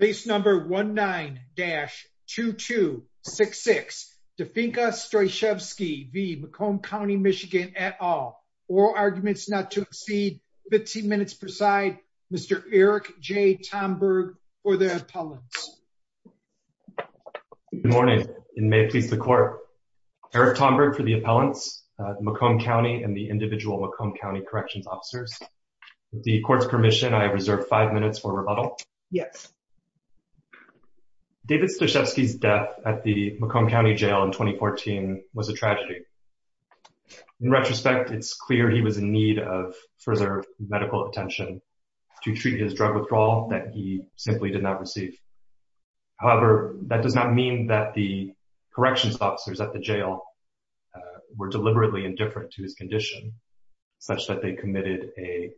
Case number 19-2266. Definka Stojcevski v. Macomb County MI et al. Oral arguments not to exceed 15 minutes per side. Mr. Eric J. Tomberg for the appellants. Good morning and may it please the court. Eric Tomberg for the appellants, Macomb County and the individual Macomb County corrections officers. With the court's permission, I have reserved five minutes for rebuttal. Yes. David Stojcevski's death at the Macomb County jail in 2014 was a tragedy. In retrospect, it's clear he was in need of further medical attention to treat his drug withdrawal that he simply did not receive. However, that does not mean that the corrections officers at the jail were deliberately indifferent to his condition, such that they committed a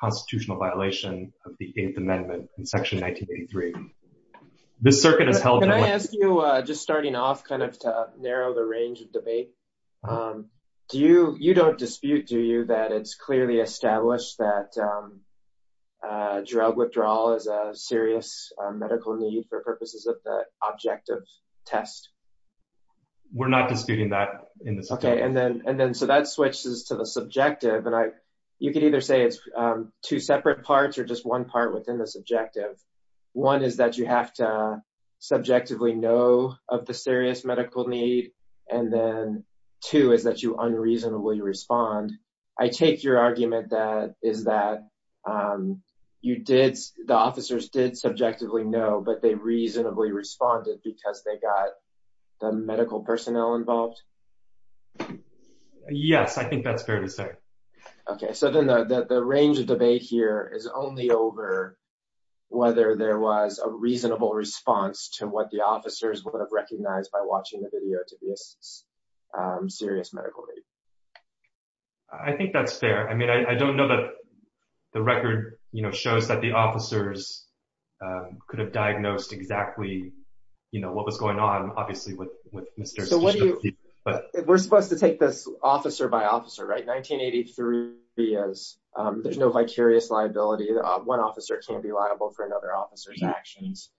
constitutional violation of the Eighth Amendment in Section 1983. This circuit has held... Can I ask you, just starting off, kind of to narrow the range of debate. Do you, you don't dispute, do you, that it's clearly established that drug withdrawal is a serious medical need for purposes of the objective test? We're not disputing that in this... Okay. And then, and then, so that switches to the subjective and I, you could either say it's two separate parts or just one part within this objective. One is that you have to subjectively know of the serious medical need and then two is that you unreasonably respond. I take your argument that is that you did, the officers did subjectively know, but they reasonably responded because they got the medical personnel involved. Yes, I think that's fair to say. Okay. So then the range of debate here is only over whether there was a reasonable response to what the officers would have recognized by watching the video to be a serious medical need. I think that's fair. I mean, I don't know that the record, you know, shows that the officers could have diagnosed exactly, you know, what was going on, obviously with, with Mr. So what do you, we're supposed to take this officer by officer, right? 1983 is, there's no vicarious liability. One officer can't be liable for another officer's actions.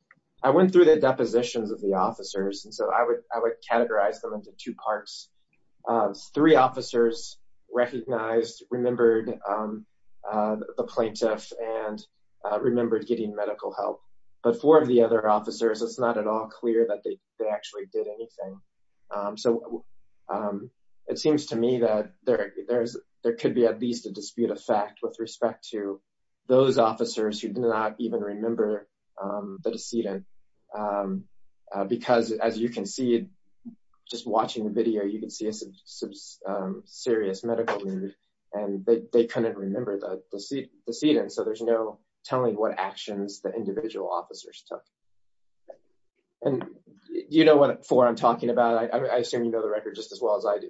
I went through the depositions of the officers. And so I would, I would categorize them into two parts. Three officers recognized, remembered the plaintiff and remembered getting medical help. But four of the other officers, it's not at all clear that they actually did anything. So it seems to me that there, there's, there could be at least a dispute of fact with respect to those officers who do not even remember the decedent. Because as you can see, just watching the video, you can see a serious medical need and they couldn't remember the decedent. So there's no telling what actions the individual officers took. And you know what four I'm talking about. I assume you know the record just as well as I do.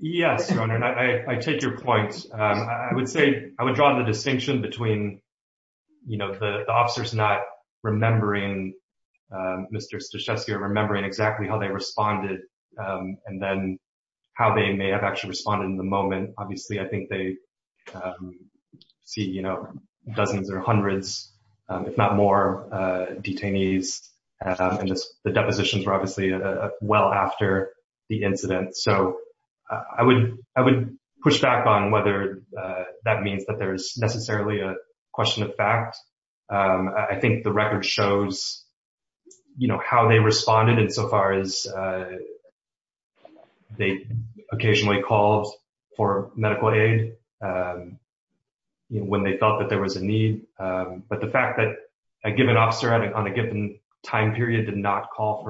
Yes. I take your point. I would say I would draw the distinction between, you know, the officers not remembering Mr. Stachewski or remembering exactly how they responded. And then how they may have actually responded in the moment. Obviously, I think they see, you know, dozens or hundreds, if not more, detainees. And the depositions were obviously well after the incident. So I would, I would push back on whether that means that there's necessarily a question of fact. I think the record shows, you know, how they responded insofar as they occasionally called for medical aid, you know, when they felt that there was a need. But the fact that a given officer on a given time period did not call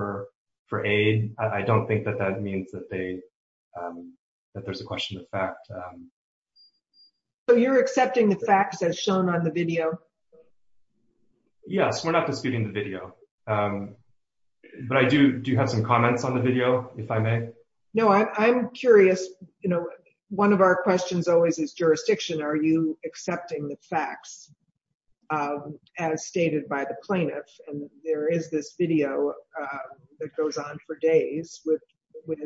for aid, I don't think that that means that they that there's a question of fact. So you're accepting the facts as shown on the video? Yes, we're not disputing the video. But I do do have some comments on the video, if I may. No, I'm curious. You know, one of our questions always is jurisdiction. Are you accepting the facts of as stated by the plaintiff, and there is this video that goes on for days with with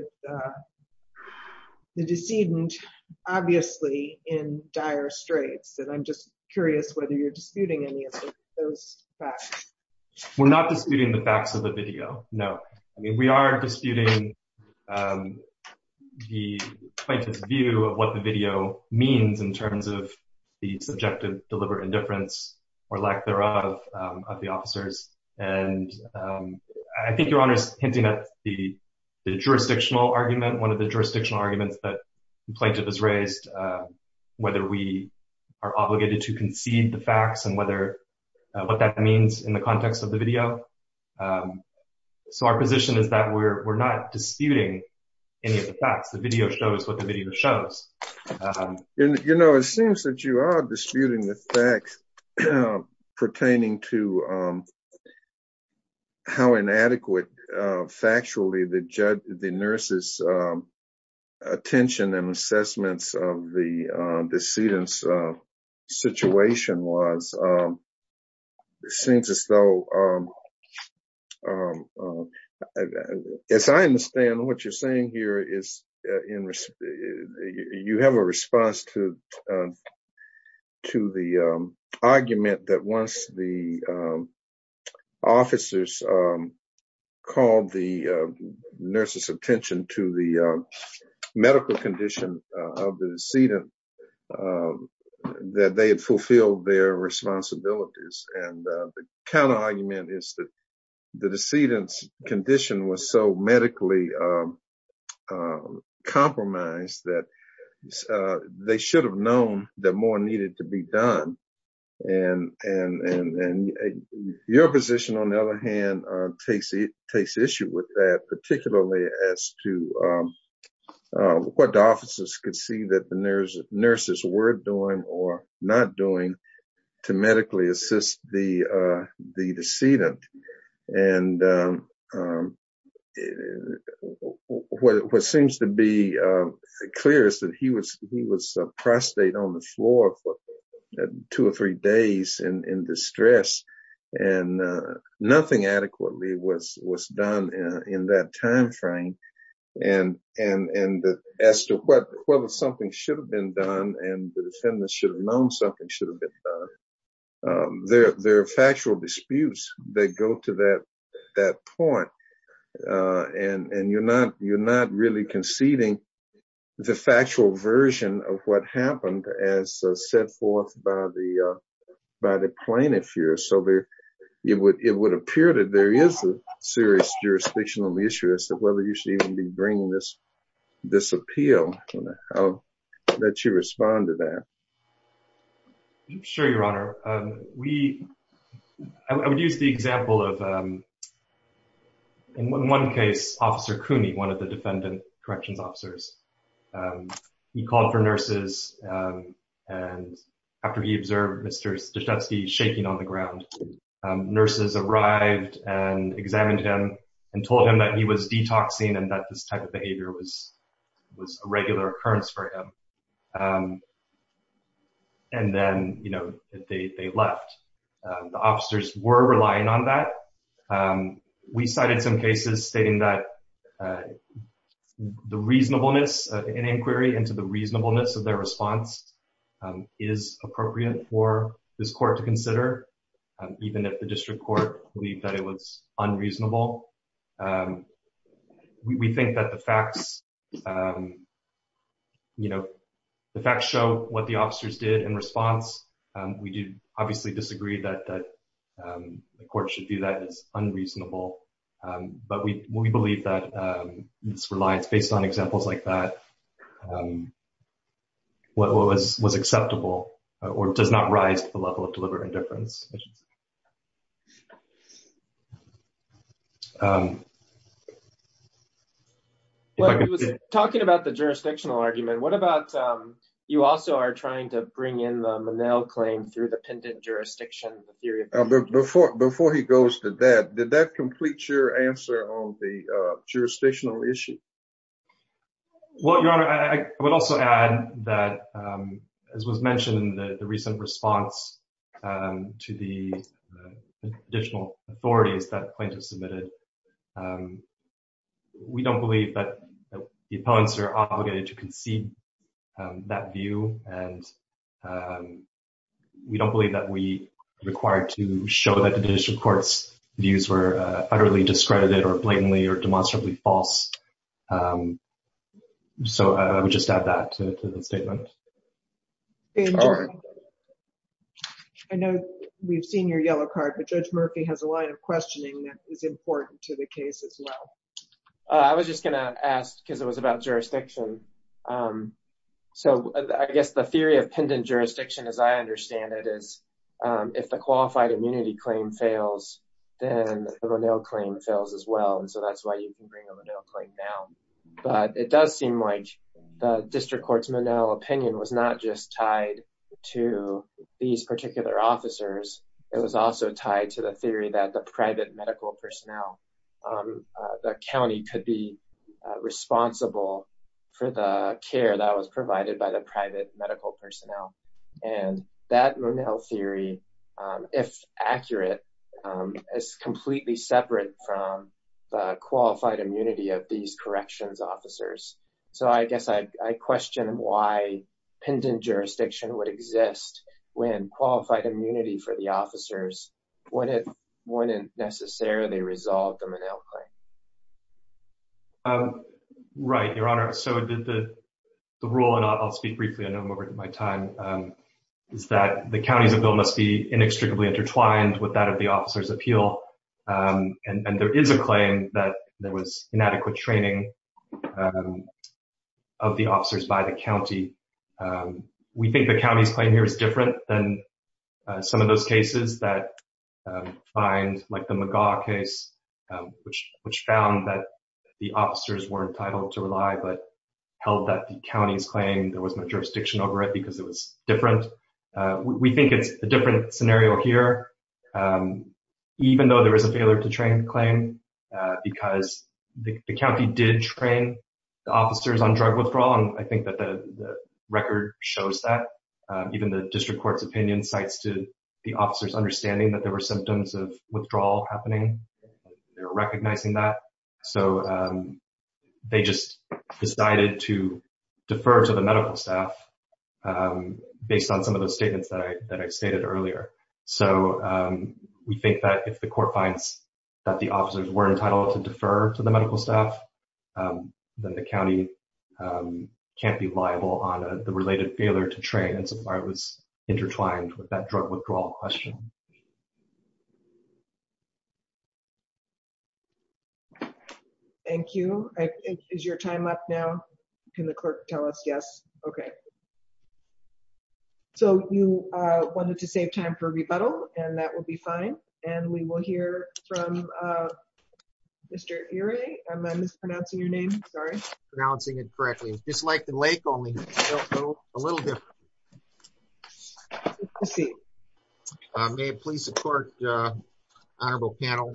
the decedent, obviously, in dire straits, and I'm just curious whether you're disputing any of those facts. We're not disputing the facts of the video. No, I mean, we are disputing the view of what the video means in terms of the subjective deliberate indifference, or lack thereof, of the officers. And I think Your Honor's hinting at the jurisdictional argument, one of the jurisdictional arguments that the plaintiff has raised, whether we are obligated to concede the facts and what that means in the context of the video. So our position is that we're not disputing any of the facts. The video shows what the video shows. You know, it seems that you are disputing the facts pertaining to how inadequate, factually, the nurses' attention and assessments of the decedent's situation was. It seems as though, as I understand what you're saying here, you have a response to the argument that once the officers called the nurses' attention to the medical condition of the decedent, that they had fulfilled their responsibilities. And the counterargument is that the decedent's condition was so medically compromised that they should have known that more needed to be done. And your position, on the other hand, takes issue with that, particularly as to what the officers could see that the nurses were doing or not doing to medically assist the decedent. And what seems to be clear is that he was a prostate on the floor for two or three days in distress, and nothing adequately was done in that time frame. And as to whether something should have been done and the defendants should have known something should have been done, there are factual disputes that go to that point. And you're not really conceding the factual version of what happened as set forth by the plaintiff here. So it would appear that there is a serious jurisdictional issue as to whether you should even be bringing this appeal. How would you respond to that? Sure, Your Honor. I would use the example of, in one case, Officer Cooney, one of the defendant corrections officers. He called for nurses. And after he observed Mr. Staszewski shaking on the ground, nurses arrived and examined him and told him that he was detoxing and that this type of behavior was a regular occurrence for him. And then, you know, they left. The officers were the reasonableness in inquiry into the reasonableness of their response is appropriate for this court to consider, even if the district court believed that it was unreasonable. We think that the facts, you know, the facts show what the officers did in response. We do obviously disagree that the court should do that. It's unreasonable. But we believe that this reliance, based on examples like that, what was acceptable or does not rise to the level of deliberate indifference. Well, he was talking about the jurisdictional argument. What about you also are trying to bring in the Monell claim through the pendant jurisdiction? Before he goes to that, did that complete your answer on the jurisdictional issue? Well, Your Honor, I would also add that, as was mentioned in the recent response to the additional authorities that plaintiffs submitted, we don't believe that the opponents are obligated to concede that view. And we don't believe that we are required to show that the district court's views were utterly discredited or blatantly or demonstrably false. So I would just add that to the statement. I know we've seen your yellow card, but Judge Murphy has a line of questioning that is important to the case as well. I was just going to ask because it was about jurisdiction. So I guess the theory of pendant jurisdiction, as I understand it, is if the qualified immunity claim fails, then the Monell claim fails as well. And so that's why you can bring a Monell claim down. But it does seem like the district court's Monell opinion was not just tied to these particular officers. It was also tied to the theory that the private medical personnel, the county could be responsible for the care that was provided by the private medical personnel. And that Monell theory, if accurate, is completely separate from the qualified immunity of these corrections officers. So I guess I question why pendant jurisdiction would exist when qualified immunity for the officers wouldn't necessarily resolve the Monell claim. Right, Your Honor. So the rule, and I'll speak briefly, I know I'm over my time, is that the county's bill must be inextricably intertwined with that of the officer's appeal. And there is a claim that there was inadequate training of the officers by the county. We think the county's claim here is different than some of those cases that find, like the McGaugh case, which found that the officers were entitled to rely but held that the county's claim there was no jurisdiction over it because it was different. We think it's a different scenario here, even though there is a failure to train claim, because the county did train the officers on record shows that even the district court's opinion cites to the officers understanding that there were symptoms of withdrawal happening. They're recognizing that. So they just decided to defer to the medical staff based on some of those statements that I've stated earlier. So we think that if the court finds that the officers were entitled to defer to the medical staff, then the county can't be liable on the related failure to train. And so I was intertwined with that drug withdrawal question. Thank you. Is your time up now? Can the clerk tell us? Yes. Okay. So you wanted to save time for rebuttal, and that will be fine. And we will hear from Mr. Erie. Am I mispronouncing your name? Sorry. Pronouncing it correctly. It's just like the lake only a little bit. I may please support honorable panel.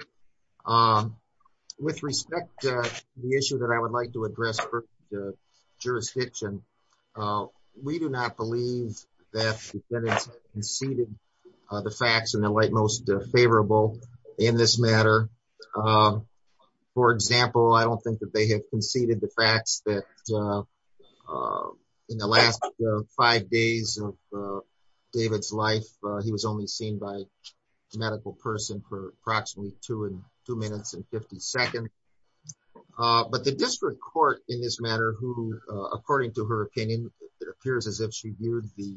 With respect to the issue that I would like to address for the jurisdiction. We do not believe that that is conceded the facts and the light most favorable in this matter. For example, I don't think that they have conceded the facts that in the last five days of David's life, he was only seen by medical person for approximately two and two minutes and 50 seconds. But the district court in this matter, who, according to her opinion, it appears as if she viewed the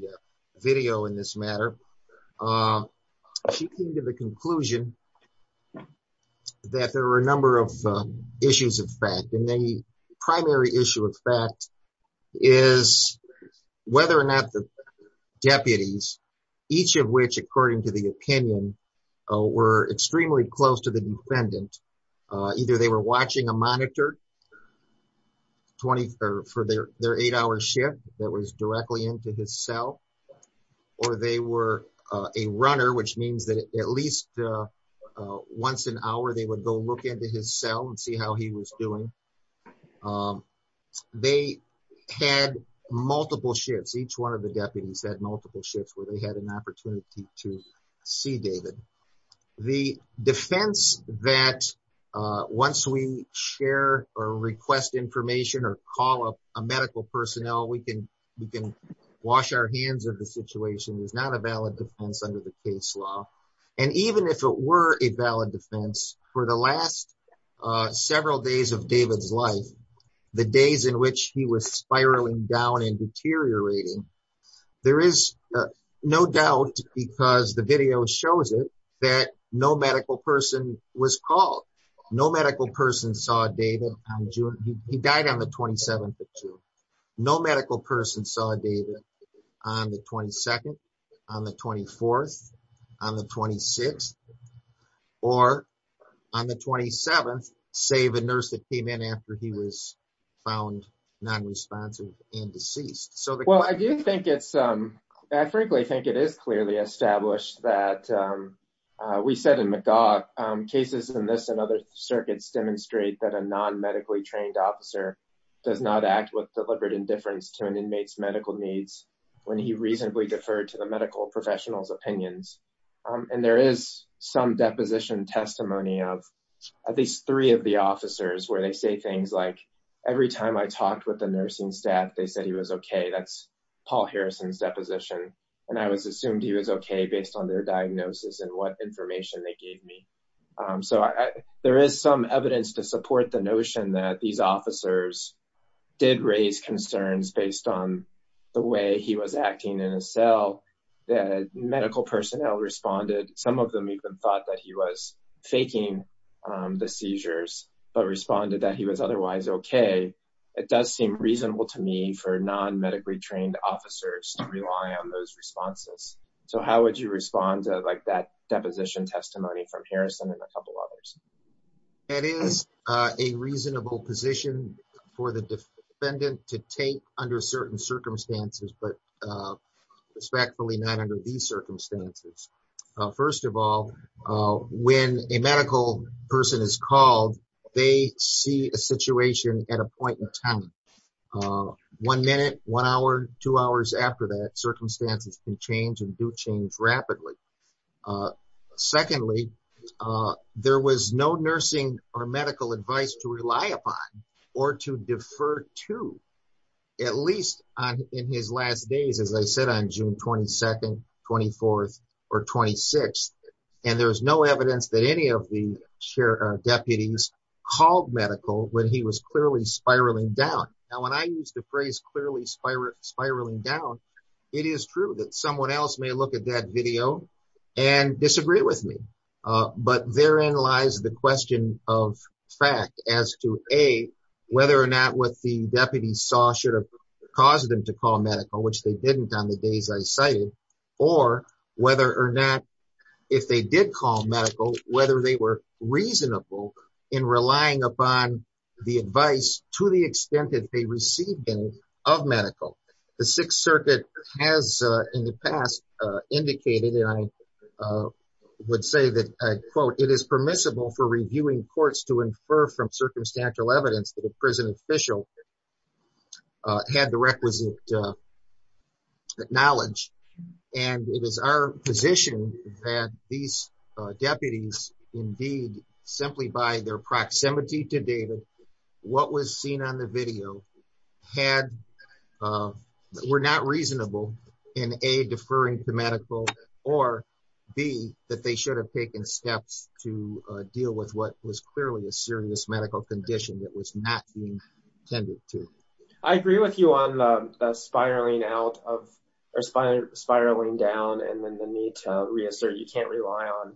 video in this matter. She came to the conclusion that there were a number of issues of fact, and the primary issue of fact is whether or not the deputies, each of which according to the opinion, were extremely close to the defendant. Either they were watching a monitor for their eight hour shift that was directly into his cell, or they were a runner, which means that at least once an hour, they would go look into his cell and see how he was doing. They had multiple shifts. Each one of the deputies had multiple shifts where they had an opportunity to see David. The defense that once we share or request information or call up a medical personnel, we can wash our hands of the situation is not a valid defense under the case law. And even if it were a valid defense for the last several days of David's life, the days in which he was spiraling down and deteriorating, there is no doubt because the video shows it that no medical person was called. No medical person saw David. He died on the 27th of June. No medical person saw David on the 22nd, on the 24th, on the 26th, or on the 27th, the nurse that came in after he was found non-responsive and deceased. I frankly think it is clearly established that we said in McGaugh, cases in this and other circuits demonstrate that a non-medically trained officer does not act with deliberate indifference to an inmate's medical needs when he reasonably deferred to the medical professional's opinions. And there is some deposition testimony of at least three of the officers where they say things like, every time I talked with the nursing staff, they said he was okay. That's Paul Harrison's deposition. And I was assumed he was okay based on their diagnosis and what information they gave me. So there is some evidence to support the notion that these officers did raise concerns based on the way he was acting in a cell that medical personnel responded. Some of them even thought that he was faking the seizures, but responded that he was otherwise okay. It does seem reasonable to me for non-medically trained officers to rely on those responses. So how would you respond to like that deposition testimony from Harrison and a couple others? It is a reasonable position for the defendant to take under certain circumstances, but respectfully, not under these circumstances. First of all, when a medical person is called, they see a situation at a point in time. One minute, one hour, two hours after that, circumstances can change and do change or to defer to at least in his last days, as I said, on June 22nd, 24th, or 26th. And there was no evidence that any of the deputies called medical when he was clearly spiraling down. Now, when I use the phrase clearly spiraling down, it is true that someone else may look at that video and disagree with me. But therein lies the question of fact as to A, whether or not what the deputies saw should have caused them to call medical, which they didn't on the days I cited, or whether or not if they did call medical, whether they were reasonable in relying upon the advice to the extent that they received any of medical. The Sixth Circuit has in the past indicated and I would say that I quote, it is permissible for reviewing courts to infer from circumstantial evidence that a prison official had the requisite knowledge. And it is our position that these deputies indeed, simply by their proximity to data, what was seen on the video had, were not reasonable in A, deferring to medical or B, that they should have taken steps to deal with what was clearly a serious medical condition that was not being tended to. I agree with you on the spiraling down and then the need to reassert you can't rely on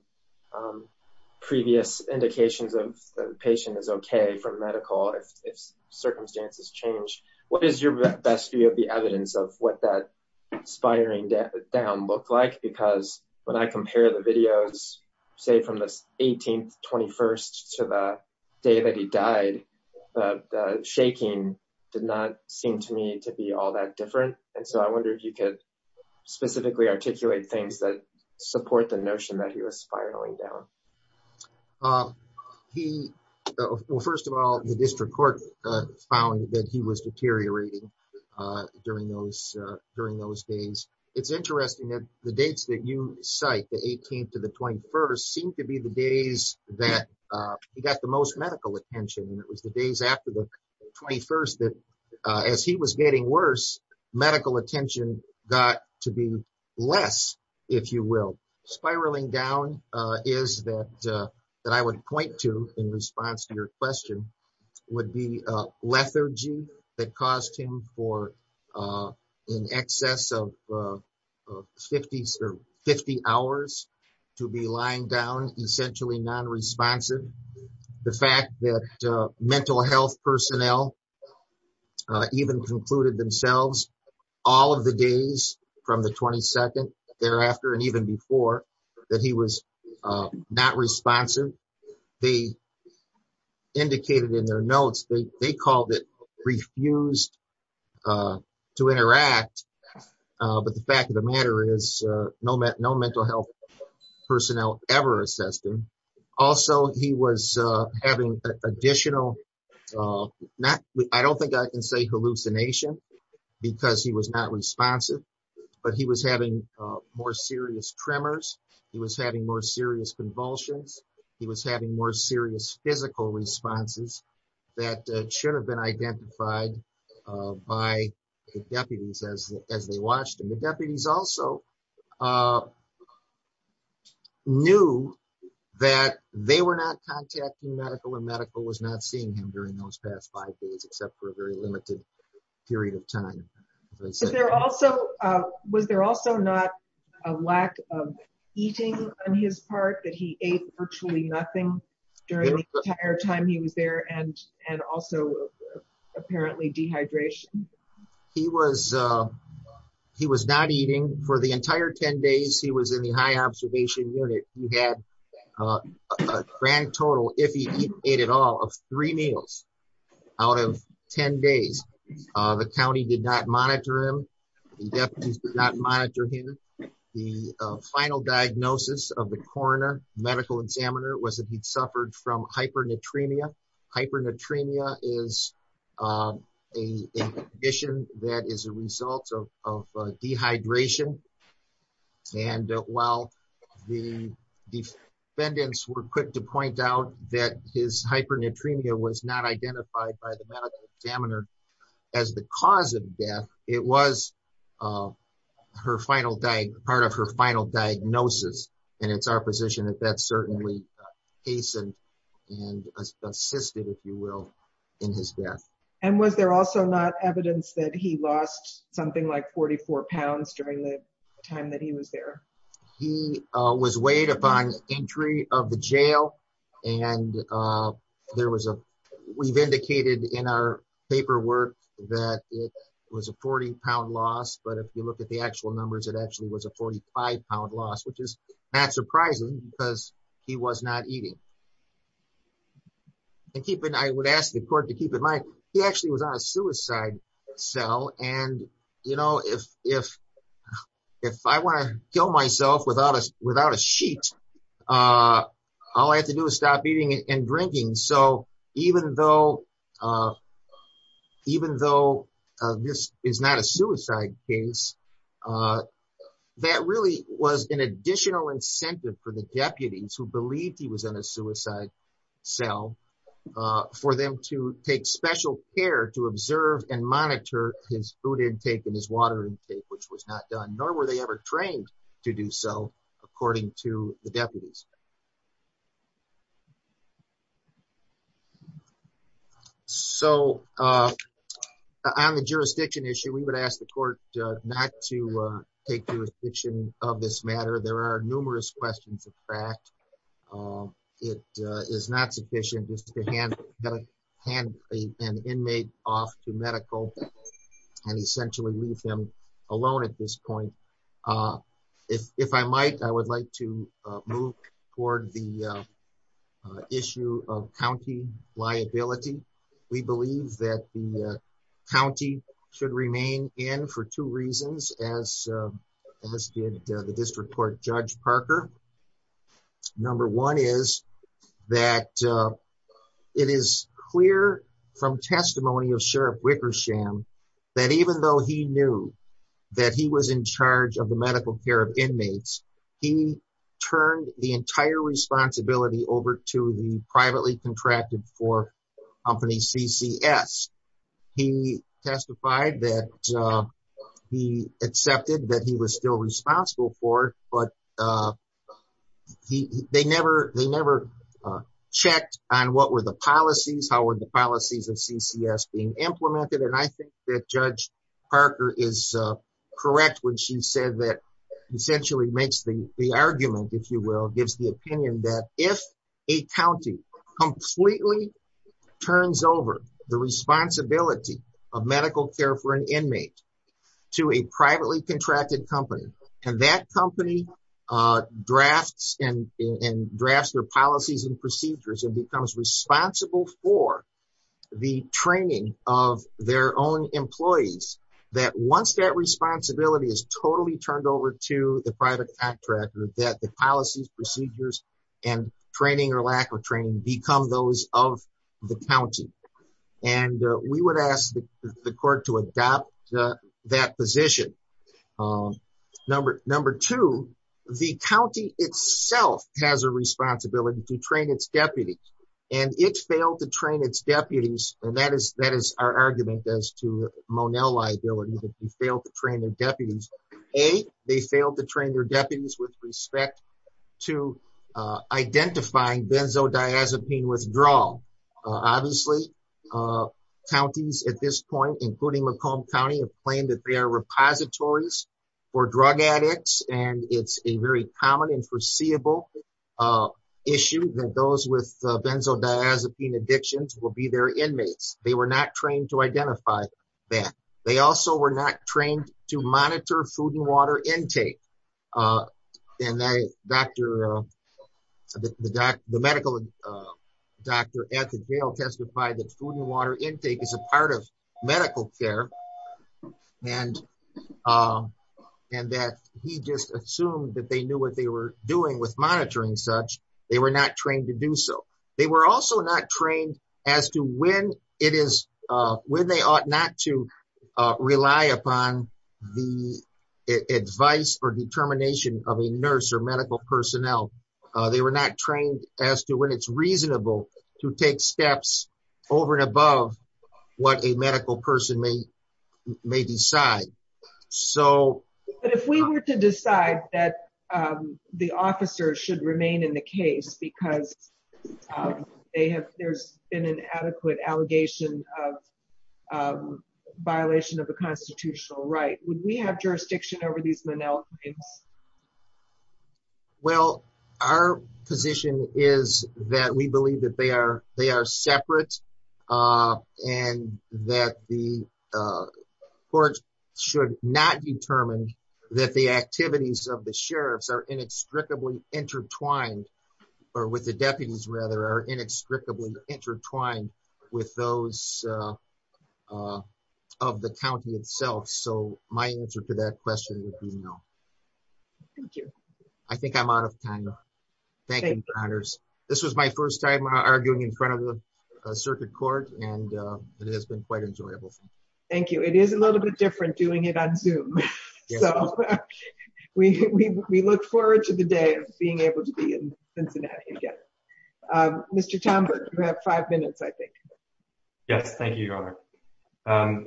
indications of the patient is okay from medical if circumstances change. What is your best view of the evidence of what that spiraling down looked like? Because when I compare the videos, say from this 18th, 21st to the day that he died, the shaking did not seem to me to be all that different. And so I wonder if you could specifically articulate things that support the notion that he was spiraling down. Well, first of all, the district court found that he was deteriorating during those days. It's interesting that the dates that you cite, the 18th to the 21st, seemed to be the days that he got the most medical attention. And it was the days after the 21st that as he was getting worse, medical attention got to be less, if you will, spiraling down is that I would point to in response to your question would be lethargy that caused him for in excess of 50 hours to be lying down, essentially non-responsive. The fact that mental health personnel even concluded themselves all of the days from the 22nd thereafter and even before that he was not responsive, they indicated in their notes, they called it refused to interact. But the fact of the matter is no mental health personnel ever assessed him. Also, he was having additional, I don't think I can say hallucination, because he was not responsive, but he was having more serious tremors. He was having more serious convulsions. He was having more serious physical responses that should have been identified by the deputies as they watched him. The deputies also knew that they were not contacting medical and medical was not seeing him during those past five days, except for a very time. Was there also not a lack of eating on his part that he ate virtually nothing during the entire time he was there and also apparently dehydration? He was not eating for the entire 10 days he was in the high observation unit. He had a grand total if he ate at all of three meals out of 10 days. The county did not monitor him. The deputies did not monitor him. The final diagnosis of the coroner medical examiner was that he'd suffered from hypernatremia. Hypernatremia is a condition that is a result of dehydration. And while the defendants were quick to point out that his hypernatremia was not identified by the medical examiner as the cause of death, it was her final day, part of her final diagnosis. And it's our position that that's certainly hastened and assisted if you will, in his death. And was there also not evidence that he lost something like 44 pounds during the time that he was there? He was weighed upon entry of the jail and there was a, we've indicated in our paperwork that it was a 40 pound loss. But if you look at the actual numbers, it actually was a 45 pound loss, which is not surprising because he was not eating. And keep in, I would ask the court to keep in mind, he actually was on a suicide cell. And you know, if I want to kill myself without a sheet, all I have to do is stop eating and drinking. So even though this is not a suicide case, that really was an additional incentive for the deputies who believed he was in a suicide cell for them to take special care to observe and monitor his food intake and his water intake, which was not done, nor were they ever trained to do so, according to the deputies. So on the jurisdiction issue, we would ask the court not to take jurisdiction of this matter. There are numerous questions of fact. It is not sufficient to hand an inmate off to medical and essentially leave him alone at this point. If I might, I would like to move toward the issue of county liability. We believe that the county should remain in for two reasons, as did the District Court Judge Parker. Number one is that it is clear from testimony of Sheriff Wickersham, that even though he knew that he was in charge of the medical care of inmates, he turned the entire responsibility over to the privately contracted for company CCS. He testified that he accepted that he was still responsible for it, but they never checked on what were the policies, how were the policies of CCS being implemented. And I think that Judge Parker is correct when she said that essentially makes the argument, if you will, gives the opinion that if a county completely turns over the responsibility of medical care for an inmate to a privately contracted company, and that company drafts their policies and procedures and becomes responsible for the training of their own employees, that once that responsibility is totally turned over to the private contractor, that the policies, procedures, and training or lack of training become those of the county. And we would ask the court to adopt that position. Number two, the county itself has a responsibility to train its deputies, and it failed to train its deputies. And that is our argument as to Monell liability, that they failed to train their deputies. A, they failed to train their deputies with respect to identifying benzodiazepine withdrawal. Obviously, counties at this point, including Macomb County have claimed that they are repositories for drug addicts. And it's a very common and foreseeable issue that those with benzodiazepine addictions will be their inmates. They were not trained to identify that. They also were not trained to monitor food and water intake. And the medical doctor at the jail testified that food and water intake is a part of medical care. And that he just assumed that they knew what they were doing with monitoring such, they were not trained to do so. They were also not trained as to when they ought not to rely upon the advice or determination of a nurse or medical personnel. They were not trained as to when it's reasonable to take steps over and above what a medical person may decide. But if we were to decide that the officers should remain in the case, because they have, there's been an adequate allegation of violation of the constitutional right, would we have jurisdiction over these manel claims? Well, our position is that we believe that they are, they are separate. And that the courts should not determine that the activities of the sheriffs are inextricably intertwined or with the deputies rather are inextricably intertwined with those of the county itself. So my answer to that question would be no. Thank you. I think I'm out of time. Thank you for honors. This was my first time arguing in front of the circuit court and it has been quite enjoyable. Thank you. It is a little bit different doing it on Zoom. So we look forward to the day of being able to be in Cincinnati again. Mr. Townsend, you have five minutes, I think. Yes. Thank you, Your Honor.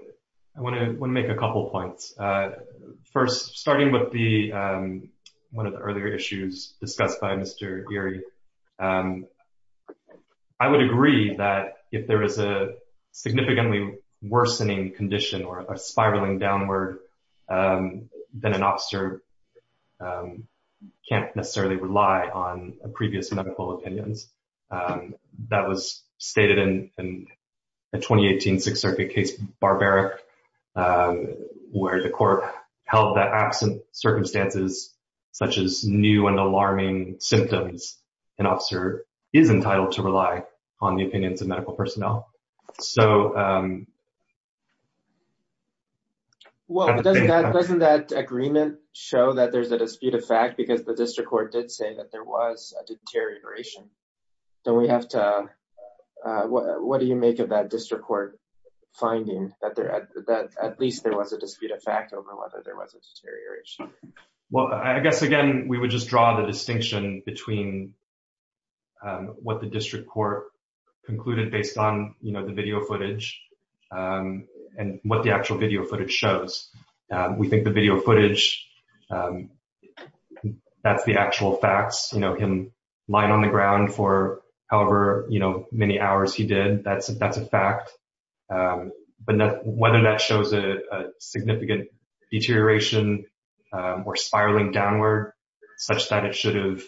I want to make a couple of points. First, starting with the, one of the earlier issues discussed by Mr. Geary. I would agree that if there is a then an officer can't necessarily rely on previous medical opinions. That was stated in a 2018 Sixth Circuit case, Barbaric, where the court held that absent circumstances, such as new and alarming symptoms, an officer is entitled to rely on the opinions of medical personnel. So... Well, doesn't that agreement show that there's a dispute of fact because the district court did say that there was a deterioration? Don't we have to, what do you make of that district court finding that at least there was a dispute of fact over whether there was a deterioration? Well, I guess, again, we would just draw the distinction between what the district court concluded based on the video footage and what the actual video footage shows. We think the video footage, that's the actual facts, you know, him lying on the ground for however many hours he did, that's a fact. But whether that shows a significant deterioration or spiraling downward, such that it should have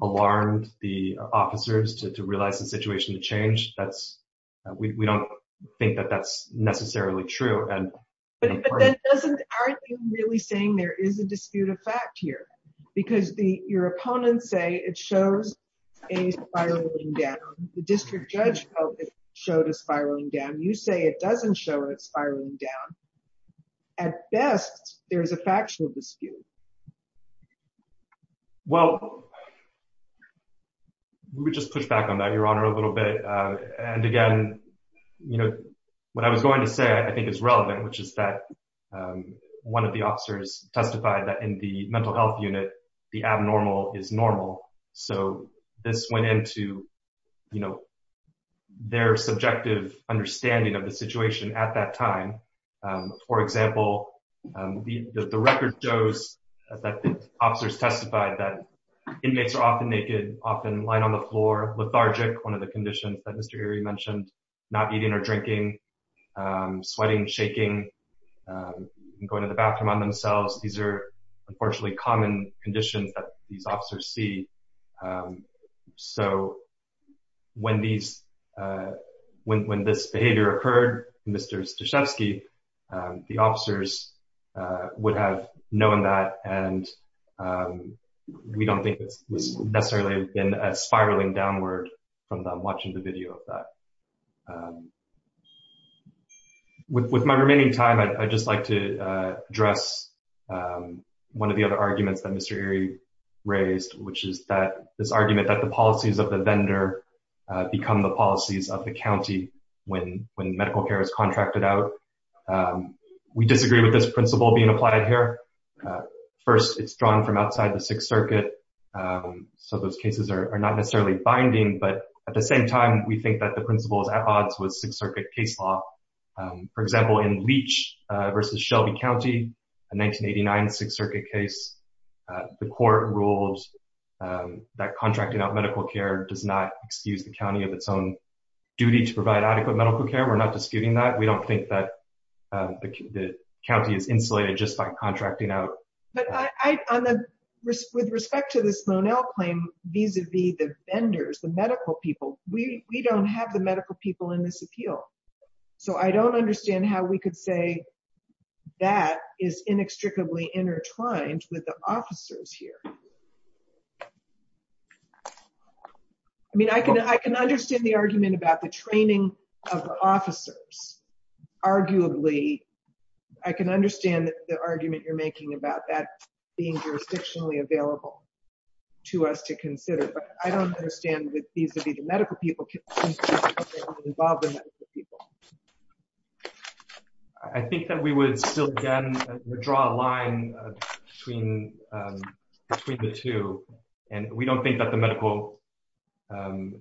alarmed the officers to realize the situation to change, that's, we don't think that that's necessarily true. But then doesn't, aren't you really saying there is a dispute of fact here? Because your opponents say it shows a spiraling down. The district judge felt it showed a spiraling down. You say it doesn't show a spiraling down. At best, there's a factual dispute. Well, we would just push back on that, Your Honor, a little bit. And again, you know, what I was going to say, I think is relevant, which is that one of the officers testified that in the mental health unit, the abnormal is normal. So this went into, you know, their subjective understanding of the situation at that time. For example, the record shows that the officers testified that inmates are often naked, often lying on the floor, lethargic, one of the conditions that Mr. Erie mentioned, not eating or drinking, sweating, shaking, going to the bathroom on themselves. These are, unfortunately, common conditions that these officers see. So when these, when this behavior occurred, Mr. Stashevsky, the officers would have known that and we don't think this was necessarily in a spiraling downward from them watching the video of that. With my remaining time, I'd just like to address one of the other arguments that Mr. Erie raised, which is that this argument that the policies of the vendor become the policies of the county when medical care is contracted out. We disagree with this principle being applied here. First, it's drawn from outside the Sixth Circuit. So those cases are not necessarily binding. But at the same time, we think that the principle is at odds with Sixth Circuit case law. For example, in Leach versus Shelby County, a 1989 Sixth Circuit case, the court rules that contracting out medical care does not excuse the county of its own duty to provide adequate medical care. We're not disputing that. We don't think that the county is insulated just by contracting out. But with respect to this Lonell claim, vis-a-vis the vendors, the medical people, we don't have the medical people in this appeal. So I don't understand how we could say that is inextricably intertwined with the officers here. I mean, I can understand the argument about the training of the officers. Arguably, I can understand the argument you're making about that being jurisdictionally available to us to consider. But I don't understand with vis-a-vis the medical people, the involvement of the medical people. I think that we would still, again, draw a line between the two. And we don't think that the medical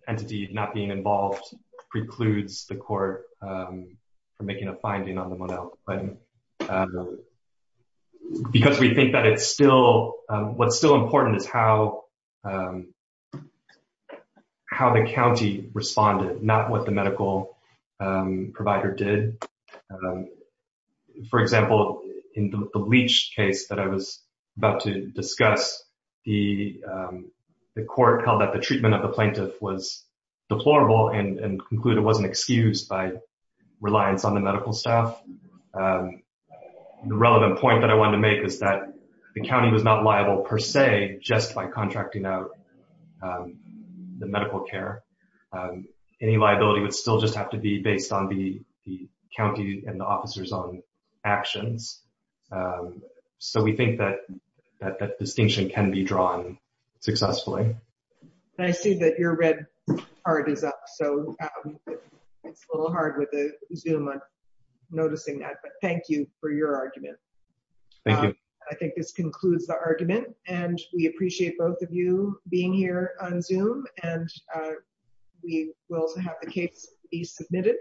entity not being involved precludes the court from making a finding on the Lonell claim. Because we think that it's still, what's still important is how the county responded, not what the medical provider did. For example, in the Leach case that I was about to discuss, the court held that the treatment of the plaintiff was deplorable and concluded it wasn't excused by reliance on the medical staff. And so, I think that the court the relevant point that I wanted to make is that the county was not liable per se, just by contracting out the medical care. Any liability would still just have to be based on the county and the officers' own actions. So, we think that distinction can be drawn successfully. I see that your red heart is up. So, it's a little hard with the Zoom, I'm noticing that. But thank you for your argument. Thank you. I think this concludes the argument. And we appreciate both of you being here on Zoom. And we will have the case be submitted.